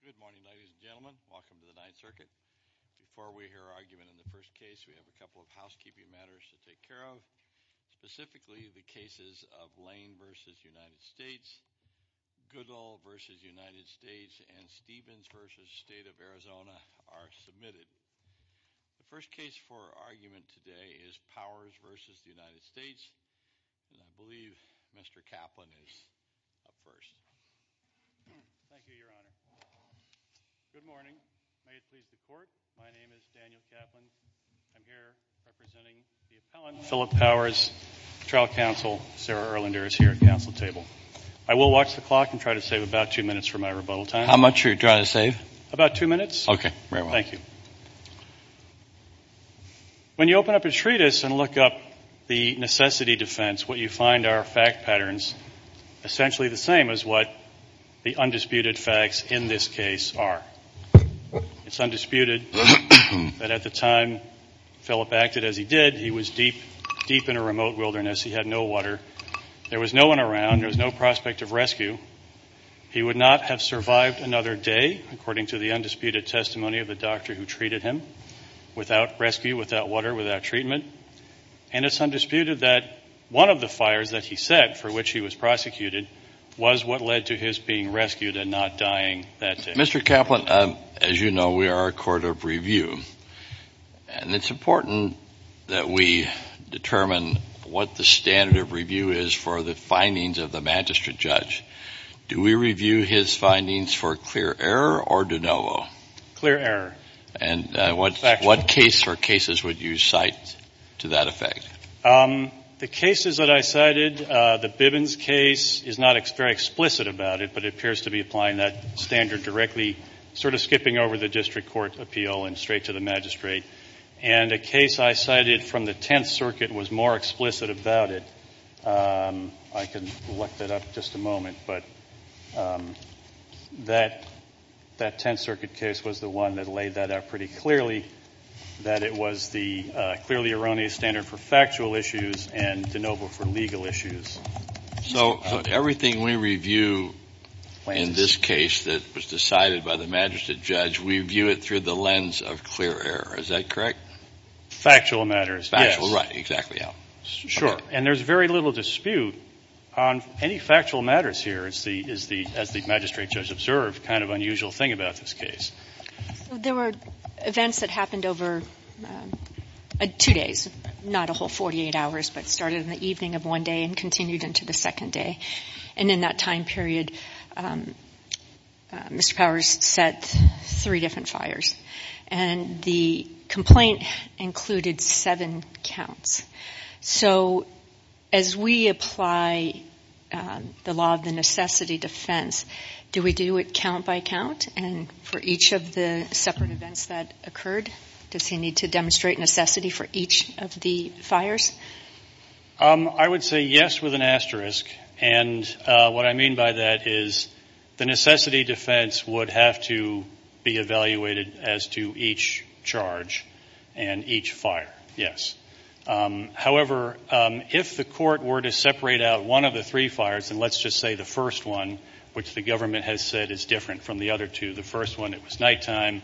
Good morning, ladies and gentlemen. Welcome to the Ninth Circuit. Before we hear argument in the first case, we have a couple of housekeeping matters to take care of. Specifically, the cases of Lane v. United States, Goodall v. United States, and Stevens v. State of Arizona are submitted. The first case for argument today is Powers v. United States, and I believe Mr. Kaplan is up first. Thank you, Your Honor. Good morning. May it please the Court, my name is Daniel Kaplan. I'm here representing the appellant Philip Powers. Trial counsel Sarah Erlander is here at the counsel table. I will watch the clock and try to save about two minutes for my rebuttal time. How much are you trying to save? About two minutes. Okay, very well. Thank you. When you open up a treatise and look up the necessity defense, what you find are fact patterns essentially the same as what the undisputed facts in this case are. It's undisputed that at the time Philip acted as he did, he was deep, deep in a remote wilderness. He had no water. There was no one around. There was no prospect of rescue. He would not have survived another day, according to the undisputed testimony of the doctor who treated him, without rescue, without water, without treatment. And it's undisputed that one of the fires that he set for which he was prosecuted was what led to his being rescued and not dying that day. Mr. Kaplan, as you know, we are a court of review, and it's important that we determine what the standard of review is for the findings of the magistrate judge. Do we review his findings for clear error or de novo? Clear error. And what case or cases would you cite to that effect? The cases that I cited, the Bibbins case, is not very explicit about it, but it appears to be applying that standard directly, sort of skipping over the district court appeal and straight to the magistrate. And a case I cited from the Tenth Circuit was more explicit about it. I can look that up in just a moment, but that Tenth Circuit case was the one that laid that out pretty clearly, that it was the clearly erroneous standard for factual issues and de novo for legal issues. So everything we review in this case that was decided by the magistrate judge, we view it through the lens of clear error. Is that correct? Factual matters, yes. Factual, right. Exactly. Sure. And there's very little dispute on any factual matters here, as the magistrate judge observed, kind of unusual thing about this case. There were events that happened over two days, not a whole 48 hours, but started in the evening of one day and continued into the second day. And in that time period, Mr. Powers set three different fires. And the complaint included seven counts. So as we apply the law of the necessity defense, do we do it count by count? And for each of the separate events that occurred, does he need to demonstrate necessity for each of the fires? I would say yes with an asterisk. And what I mean by that is the necessity defense would have to be evaluated as to each charge and each fire. Yes. However, if the court were to separate out one of the three fires, and let's just say the first one, which the government has said is different from the other two, the first one, it was nighttime,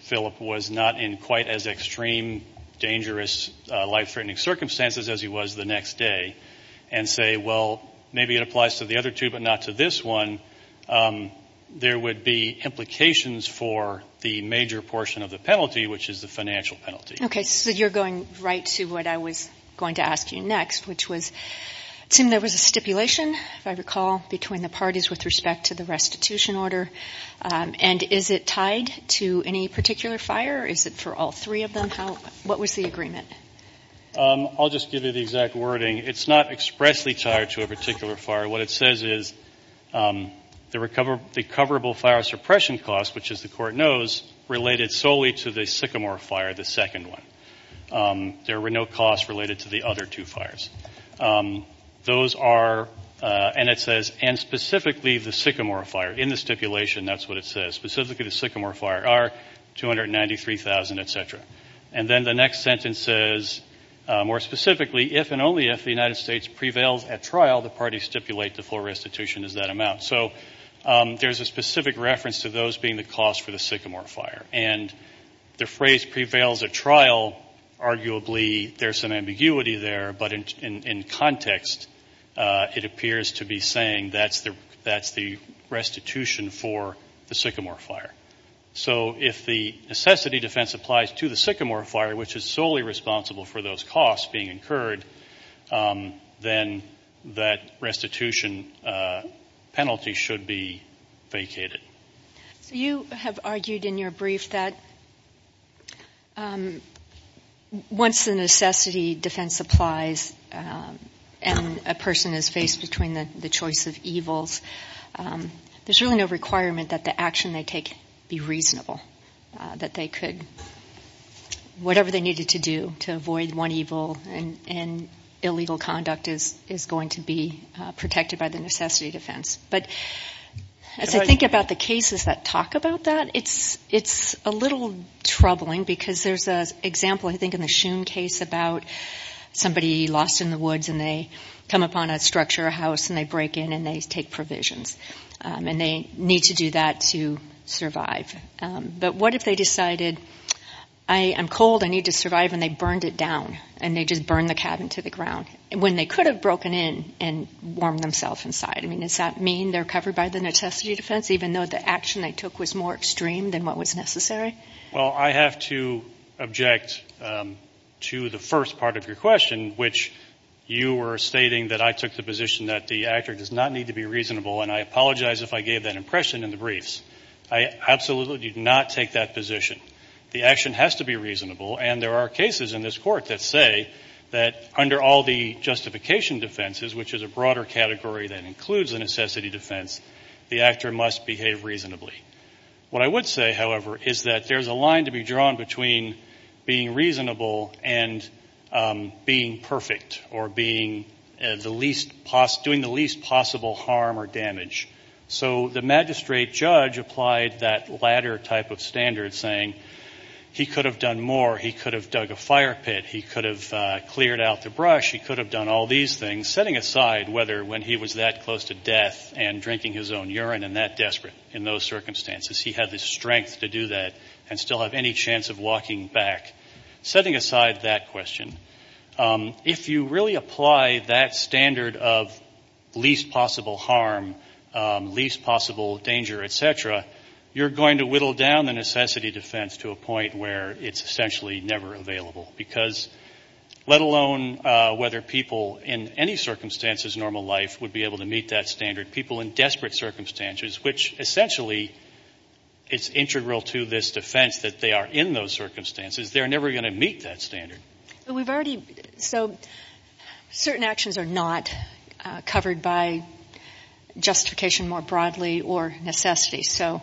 Philip was not in quite as extreme, dangerous, life-threatening circumstances as he was the next day, and say, well, maybe it applies to the other two but not to this one, there would be implications for the major portion of the penalty, which is the financial penalty. Okay. So you're going right to what I was going to ask you next, which was, Tim, there was a stipulation, if I recall, between the parties with respect to the restitution order. And is it tied to any particular fire, or is it for all three of them? What was the agreement? I'll just give you the exact wording. It's not expressly tied to a particular fire. What it says is the recoverable fire suppression cost, which, as the court knows, related solely to the Sycamore fire, the second one. There were no costs related to the other two fires. Those are, and it says, and specifically the Sycamore fire. In the stipulation, that's what it says. Specifically the Sycamore fire are $293,000, et cetera. And then the next sentence says, more specifically, if and only if the United States prevails at trial, the parties stipulate the full restitution is that amount. So there's a specific reference to those being the cost for the Sycamore fire. And the phrase prevails at trial, arguably there's some ambiguity there, but in context it appears to be saying that's the restitution for the Sycamore fire. So if the necessity defense applies to the Sycamore fire, which is solely responsible for those costs being incurred, then that restitution penalty should be vacated. So you have argued in your brief that once the necessity defense applies and a person is faced between the choice of evils, there's really no requirement that the action they take be reasonable. That they could, whatever they needed to do to avoid one evil and illegal conduct is going to be protected by the necessity defense. But as I think about the cases that talk about that, it's a little troubling, because there's an example I think in the Shum case about somebody lost in the woods and they come upon a structure, a house, and they break in and they take provisions. And they need to do that to survive. But what if they decided, I'm cold, I need to survive, and they burned it down. And they just burned the cabin to the ground, when they could have broken in and warmed themselves inside. I mean, does that mean they're covered by the necessity defense, even though the action they took was more extreme than what was necessary? Well, I have to object to the first part of your question, which you were stating that I took the position that the actor does not need to be reasonable. And I apologize if I gave that impression in the briefs. I absolutely did not take that position. The action has to be reasonable. And there are cases in this Court that say that under all the justification defenses, which is a broader category that includes the necessity defense, the actor must behave reasonably. What I would say, however, is that there's a line to be drawn between being reasonable and being perfect or doing the least possible harm or damage. So the magistrate judge applied that latter type of standard, saying he could have done more. He could have dug a fire pit. He could have cleared out the brush. He could have done all these things, setting aside whether when he was that close to death and drinking his own urine and that desperate in those circumstances, he had the strength to do that and still have any chance of walking back, setting aside that question. If you really apply that standard of least possible harm, least possible danger, et cetera, you're going to whittle down the necessity defense to a point where it's essentially never available, because let alone whether people in any circumstances in normal life would be able to meet that standard, people in desperate circumstances, which essentially is integral to this defense that they are in those circumstances, they're never going to meet that standard. So certain actions are not covered by justification more broadly or necessity. So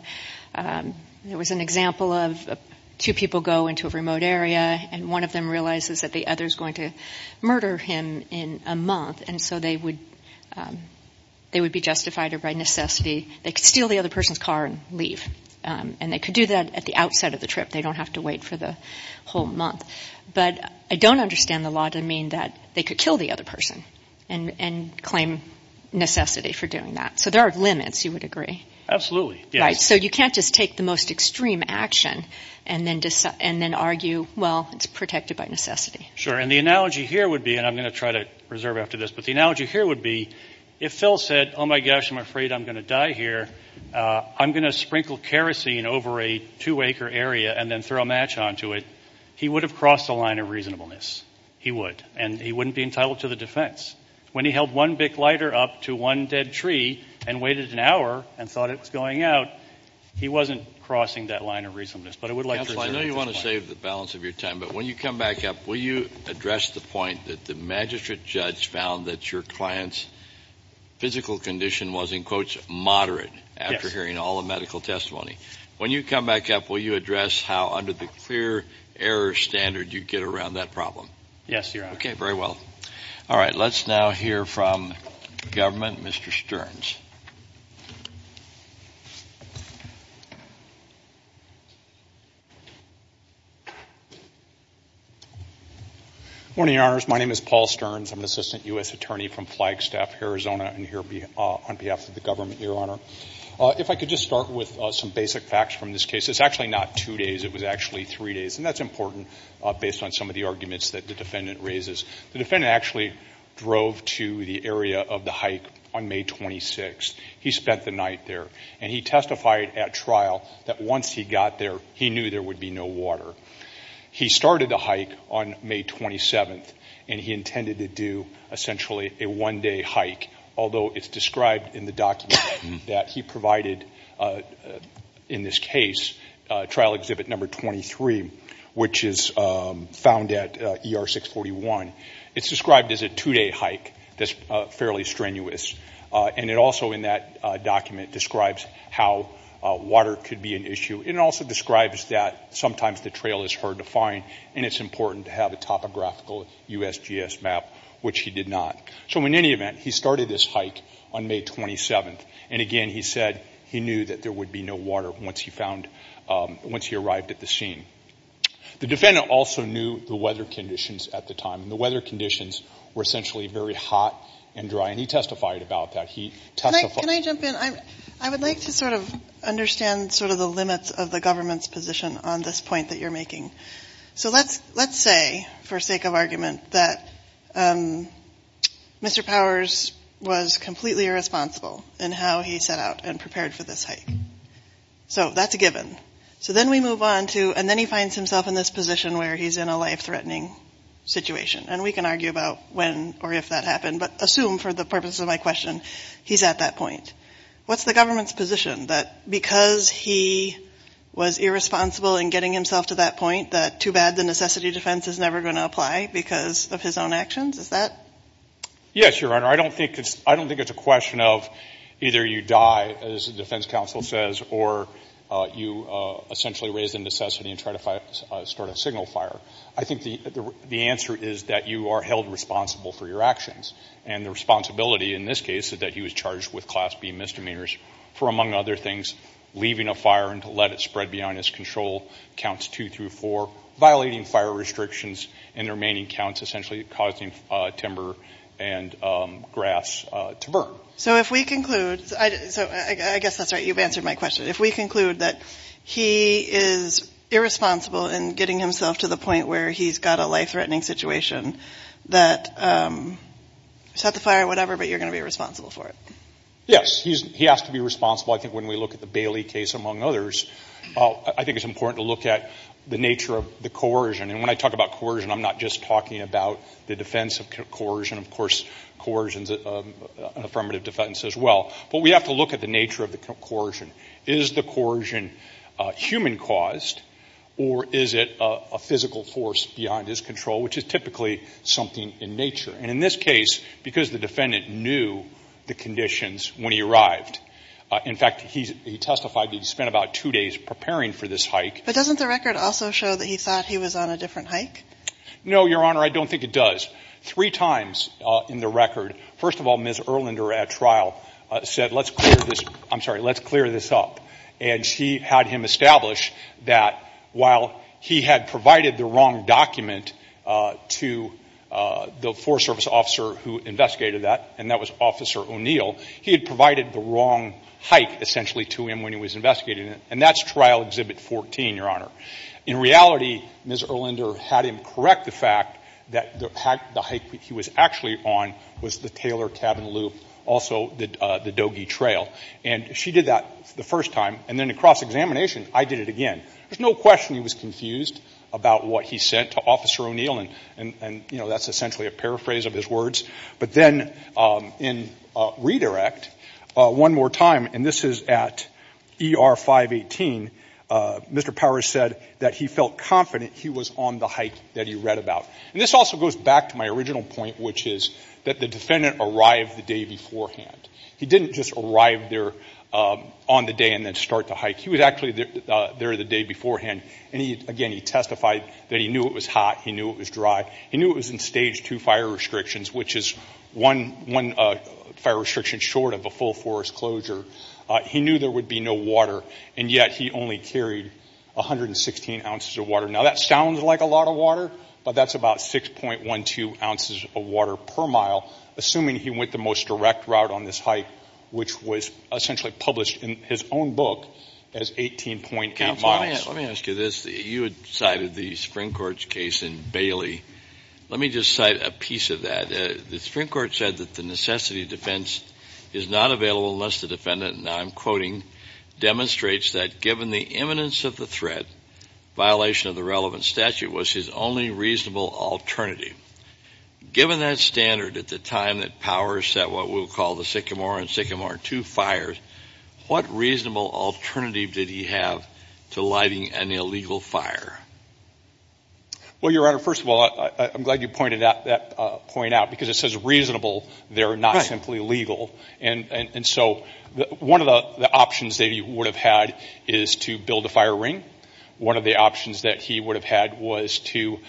there was an example of two people go into a remote area and one of them realizes that the other is going to murder him in a month, and so they would be justified by necessity. They could steal the other person's car and leave, and they could do that at the outset of the trip. They don't have to wait for the whole month. But I don't understand the law to mean that they could kill the other person and claim necessity for doing that. So there are limits, you would agree. Absolutely, yes. Right, so you can't just take the most extreme action and then argue, well, it's protected by necessity. Sure, and the analogy here would be, and I'm going to try to reserve after this, but the analogy here would be if Phil said, oh, my gosh, I'm afraid I'm going to die here, I'm going to sprinkle kerosene over a two-acre area and then throw a match onto it, he would have crossed the line of reasonableness. He would. And he wouldn't be entitled to the defense. When he held one big lighter up to one dead tree and waited an hour and thought it was going out, he wasn't crossing that line of reasonableness. But I would like to reserve this point. Counsel, I know you want to save the balance of your time, but when you come back up, will you address the point that the magistrate judge found that your client's physical condition was in quotes moderate after hearing all the medical testimony? Yes. When you come back up, will you address how under the clear error standard you get around that problem? Yes, Your Honor. Okay, very well. All right. Let's now hear from the government, Mr. Stearns. Good morning, Your Honors. My name is Paul Stearns. I'm an assistant U.S. attorney from Flagstaff, Arizona, and here on behalf of the government, Your Honor. If I could just start with some basic facts from this case. It's actually not two days. It was actually three days, and that's important based on some of the arguments that the defendant raises. The defendant actually drove to the area of the hike on May 26th. He spent the night there, and he testified at trial that once he got there, he knew there would be no water. He started the hike on May 27th, and he intended to do essentially a one-day hike, although it's described in the document that he provided in this case, trial exhibit number 23, which is found at ER 641. It's described as a two-day hike that's fairly strenuous, and it also in that document describes how water could be an issue, and it also describes that sometimes the trail is hard to find, and it's important to have a topographical USGS map, which he did not. So in any event, he started this hike on May 27th, and again he said he knew that there would be no water once he arrived at the scene. The defendant also knew the weather conditions at the time, and the weather conditions were essentially very hot and dry, and he testified about that. Can I jump in? I would like to sort of understand sort of the limits of the government's position on this point that you're making. So let's say, for sake of argument, that Mr. Powers was completely irresponsible in how he set out and prepared for this hike. So that's a given. So then we move on to, and then he finds himself in this position where he's in a life-threatening situation, and we can argue about when or if that happened, but assume for the purpose of my question, he's at that point. What's the government's position, that because he was irresponsible in getting himself to that point, that too bad the necessity defense is never going to apply because of his own actions? Is that? Yes, Your Honor. I don't think it's a question of either you die, as the defense counsel says, or you essentially raise the necessity and try to start a signal fire. I think the answer is that you are held responsible for your actions, and the responsibility in this case is that he was charged with Class B misdemeanors for, among other things, leaving a fire and to let it spread beyond his control, counts two through four, violating fire restrictions, and the remaining counts essentially causing timber and grass to burn. So if we conclude, so I guess that's right, you've answered my question. If we conclude that he is irresponsible in getting himself to the point where he's got a life-threatening situation, that set the fire, whatever, but you're going to be responsible for it. Yes, he has to be responsible. I think when we look at the Bailey case, among others, I think it's important to look at the nature of the coercion, and when I talk about coercion, I'm not just talking about the defense of coercion. Of course, coercion is an affirmative defense as well, but we have to look at the nature of the coercion. Is the coercion human-caused, or is it a physical force beyond his control, which is typically something in nature? And in this case, because the defendant knew the conditions when he arrived, in fact, he testified that he spent about two days preparing for this hike. But doesn't the record also show that he thought he was on a different hike? No, Your Honor, I don't think it does. Three times in the record, first of all, Ms. Erlander at trial said, let's clear this up. And she had him establish that while he had provided the wrong document to the Forest Service officer who investigated that, and that was Officer O'Neill, he had provided the wrong hike, essentially, to him when he was investigating it. And that's Trial Exhibit 14, Your Honor. In reality, Ms. Erlander had him correct the fact that the hike he was actually on was the Taylor Cabin Loop, also the Dogee Trail. And she did that the first time. And then in cross-examination, I did it again. There's no question he was confused about what he said to Officer O'Neill. And, you know, that's essentially a paraphrase of his words. But then in redirect, one more time, and this is at ER 518, Mr. Powers said that he felt confident he was on the hike that he read about. And this also goes back to my original point, which is that the defendant arrived the day beforehand. He didn't just arrive there on the day and then start the hike. He was actually there the day beforehand. And, again, he testified that he knew it was hot. He knew it was dry. He knew it was in Stage 2 fire restrictions, which is one fire restriction short of a full forest closure. He knew there would be no water, and yet he only carried 116 ounces of water. Now, that sounds like a lot of water, but that's about 6.12 ounces of water per mile, assuming he went the most direct route on this hike, which was essentially published in his own book as 18.8 miles. Let me ask you this. You had cited the Supreme Court's case in Bailey. Let me just cite a piece of that. The Supreme Court said that the necessity defense is not available unless the defendant, and I'm quoting, demonstrates that given the imminence of the threat, violation of the relevant statute was his only reasonable alternative. Given that standard at the time that Powers set what we'll call the Sycamore and Sycamore 2 fires, what reasonable alternative did he have to lighting an illegal fire? Well, Your Honor, first of all, I'm glad you pointed that point out because it says reasonable. They're not simply legal. And so one of the options that he would have had is to build a fire ring. One of the options that he would have had was to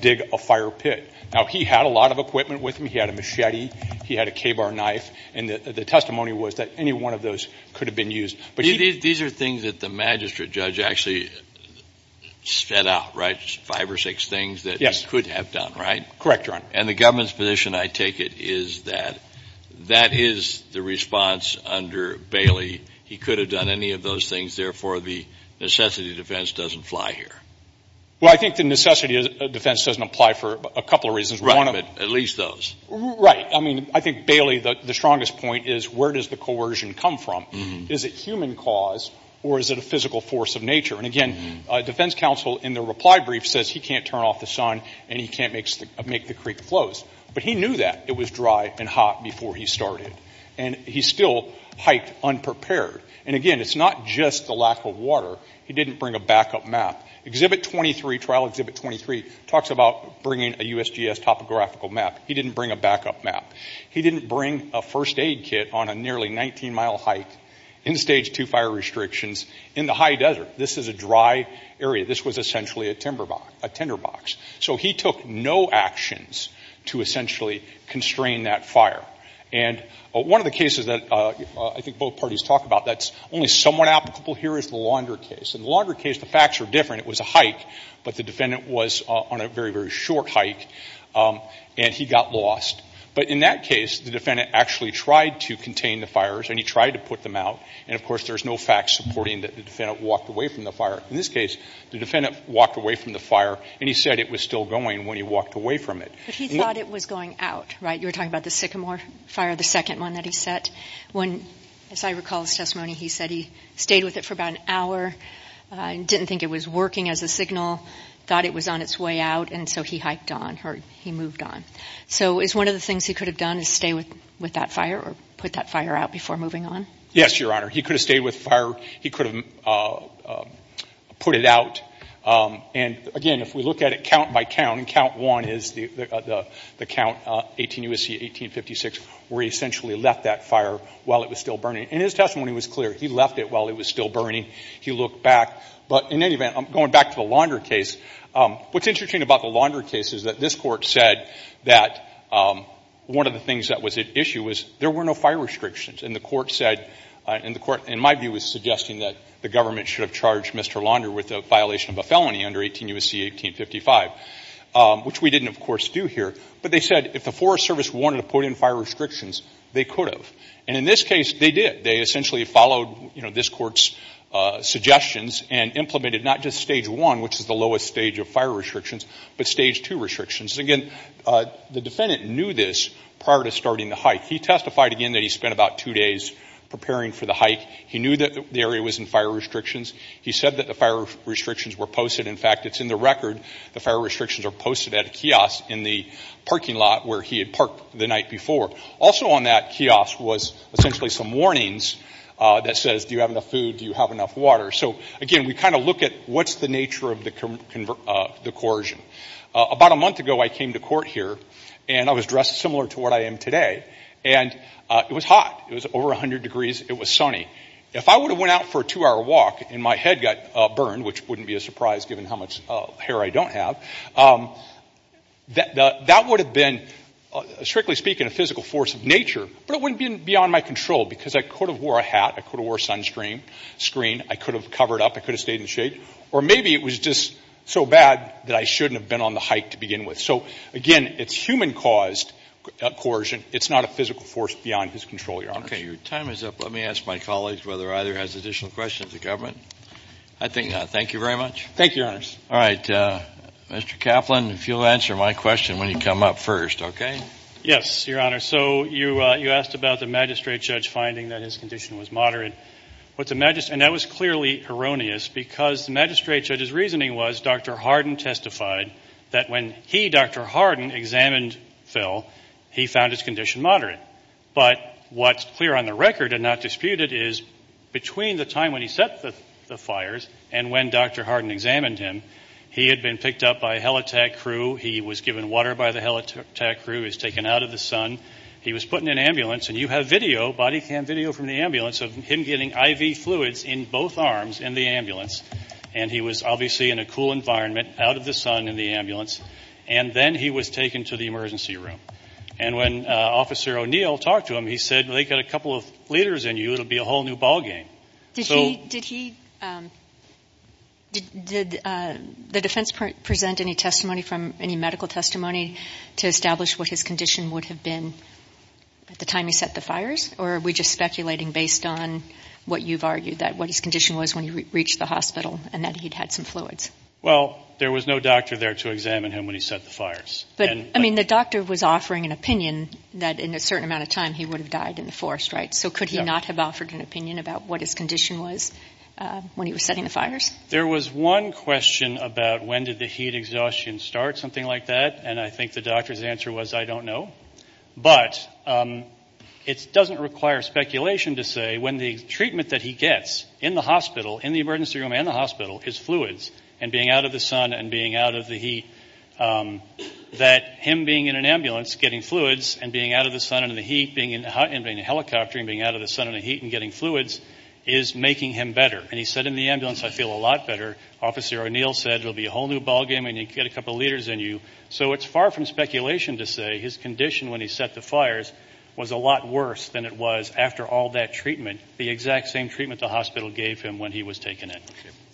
dig a fire pit. Now, he had a lot of equipment with him. He had a machete. He had a Ka-Bar knife. And the testimony was that any one of those could have been used. These are things that the magistrate judge actually set out, right, five or six things that he could have done, right? Correct, Your Honor. And the government's position, I take it, is that that is the response under Bailey. He could have done any of those things. Therefore, the necessity defense doesn't fly here. Well, I think the necessity defense doesn't apply for a couple of reasons. At least those. Right. I mean, I think, Bailey, the strongest point is where does the coercion come from? Is it human cause or is it a physical force of nature? And, again, defense counsel in the reply brief says he can't turn off the sun and he can't make the creek flows. But he knew that it was dry and hot before he started. And he still hiked unprepared. And, again, it's not just the lack of water. He didn't bring a backup map. Exhibit 23, Trial Exhibit 23, talks about bringing a USGS topographical map. He didn't bring a backup map. He didn't bring a first aid kit on a nearly 19-mile hike in Stage 2 fire restrictions in the high desert. This is a dry area. This was essentially a timber box. So he took no actions to essentially constrain that fire. And one of the cases that I think both parties talk about that's only somewhat applicable here is the Launder case. In the Launder case, the facts are different. It was a hike, but the defendant was on a very, very short hike. And he got lost. But in that case, the defendant actually tried to contain the fires and he tried to put them out. And, of course, there's no facts supporting that the defendant walked away from the fire. In this case, the defendant walked away from the fire and he said it was still going when he walked away from it. But he thought it was going out, right? You were talking about the Sycamore fire, the second one that he set. When, as I recall his testimony, he said he stayed with it for about an hour, didn't think it was working as a signal, thought it was on its way out, and so he hiked on or he moved on. So is one of the things he could have done is stay with that fire or put that fire out before moving on? Yes, Your Honor. He could have stayed with the fire. He could have put it out. And, again, if we look at it count by count, and count one is the count 18 U.S.C. 1856, where he essentially left that fire while it was still burning. And his testimony was clear. He left it while it was still burning. He looked back. But, in any event, going back to the Launder case, what's interesting about the Launder case is that this court said that one of the things that was at issue was there were no fire restrictions. And the court said, in my view, was suggesting that the government should have charged Mr. Launder with the violation of a felony under 18 U.S.C. 1855, which we didn't, of course, do here. But they said if the Forest Service wanted to put in fire restrictions, they could have. And, in this case, they did. They essentially followed, you know, this court's suggestions and implemented not just stage one, which is the lowest stage of fire restrictions, but stage two restrictions. Again, the defendant knew this prior to starting the hike. He testified, again, that he spent about two days preparing for the hike. He knew that the area was in fire restrictions. He said that the fire restrictions were posted. In fact, it's in the record the fire restrictions are posted at a kiosk in the parking lot where he had parked the night before. Also on that kiosk was essentially some warnings that says, do you have enough food? Do you have enough water? So, again, we kind of look at what's the nature of the coercion. About a month ago, I came to court here, and I was dressed similar to what I am today. And it was hot. It was over 100 degrees. It was sunny. If I would have went out for a two-hour walk and my head got burned, which wouldn't be a surprise given how much hair I don't have, that would have been, strictly speaking, a physical force of nature, but it wouldn't have been beyond my control because I could have wore a hat. I could have wore a sunscreen. I could have covered up. I could have stayed in the shade. Or maybe it was just so bad that I shouldn't have been on the hike to begin with. So, again, it's human-caused coercion. It's not a physical force beyond his control, Your Honors. Okay. Your time is up. Let me ask my colleagues whether either has additional questions of the government. I think not. Thank you very much. Thank you, Your Honors. All right. Mr. Kaplan, if you'll answer my question when you come up first, okay? Yes, Your Honor. So you asked about the magistrate judge finding that his condition was moderate. And that was clearly erroneous because the magistrate judge's reasoning was Dr. Harden testified that when he, Dr. Harden, examined Phil, he found his condition moderate. But what's clear on the record and not disputed is between the time when he set the fires and when Dr. Harden examined him, he had been picked up by a helitack crew. He was given water by the helitack crew. He was taken out of the sun. He was put in an ambulance. And you have video, body cam video from the ambulance of him getting IV fluids in both arms in the ambulance. And he was obviously in a cool environment, out of the sun in the ambulance. And then he was taken to the emergency room. And when Officer O'Neill talked to him, he said, well, they've got a couple of liters in you. It'll be a whole new ballgame. Did the defense present any testimony from any medical testimony to establish what his condition would have been at the time he set the fires? Or are we just speculating based on what you've argued, that what his condition was when he reached the hospital and that he'd had some fluids? Well, there was no doctor there to examine him when he set the fires. But, I mean, the doctor was offering an opinion that in a certain amount of time he would have died in the forest, right? So could he not have offered an opinion about what his condition was when he was setting the fires? There was one question about when did the heat exhaustion start, something like that. And I think the doctor's answer was, I don't know. But it doesn't require speculation to say when the treatment that he gets in the hospital, in the emergency room and the hospital, is fluids and being out of the sun and being out of the heat, that him being in an ambulance getting fluids and being out of the sun and in the heat, being in a helicopter and being out of the sun and the heat and getting fluids, is making him better. And he said in the ambulance, I feel a lot better. Officer O'Neill said, it'll be a whole new ballgame when you get a couple liters in you. So it's far from speculation to say his condition when he set the fires was a lot worse than it was after all that treatment, the exact same treatment the hospital gave him when he was taken in.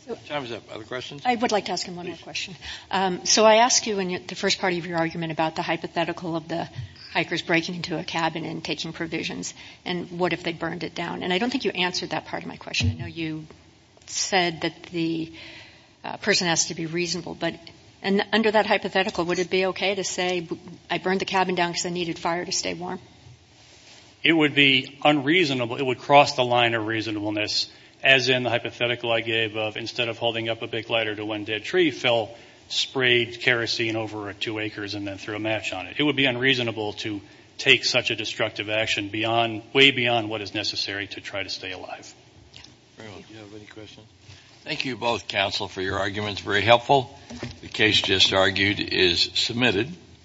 Other questions? I would like to ask him one more question. So I asked you in the first part of your argument about the hypothetical of the hikers breaking into a cabin and taking provisions and what if they burned it down. And I don't think you answered that part of my question. I know you said that the person has to be reasonable. But under that hypothetical, would it be okay to say, I burned the cabin down because I needed fire to stay warm? It would be unreasonable. It would cross the line of reasonableness, as in the hypothetical I gave of, instead of holding up a big lighter to one dead tree, fell, sprayed kerosene over two acres and then threw a match on it. It would be unreasonable to take such a destructive action way beyond what is necessary to try to stay alive. Do you have any questions? Thank you both, counsel, for your arguments. Very helpful. The case just argued is submitted.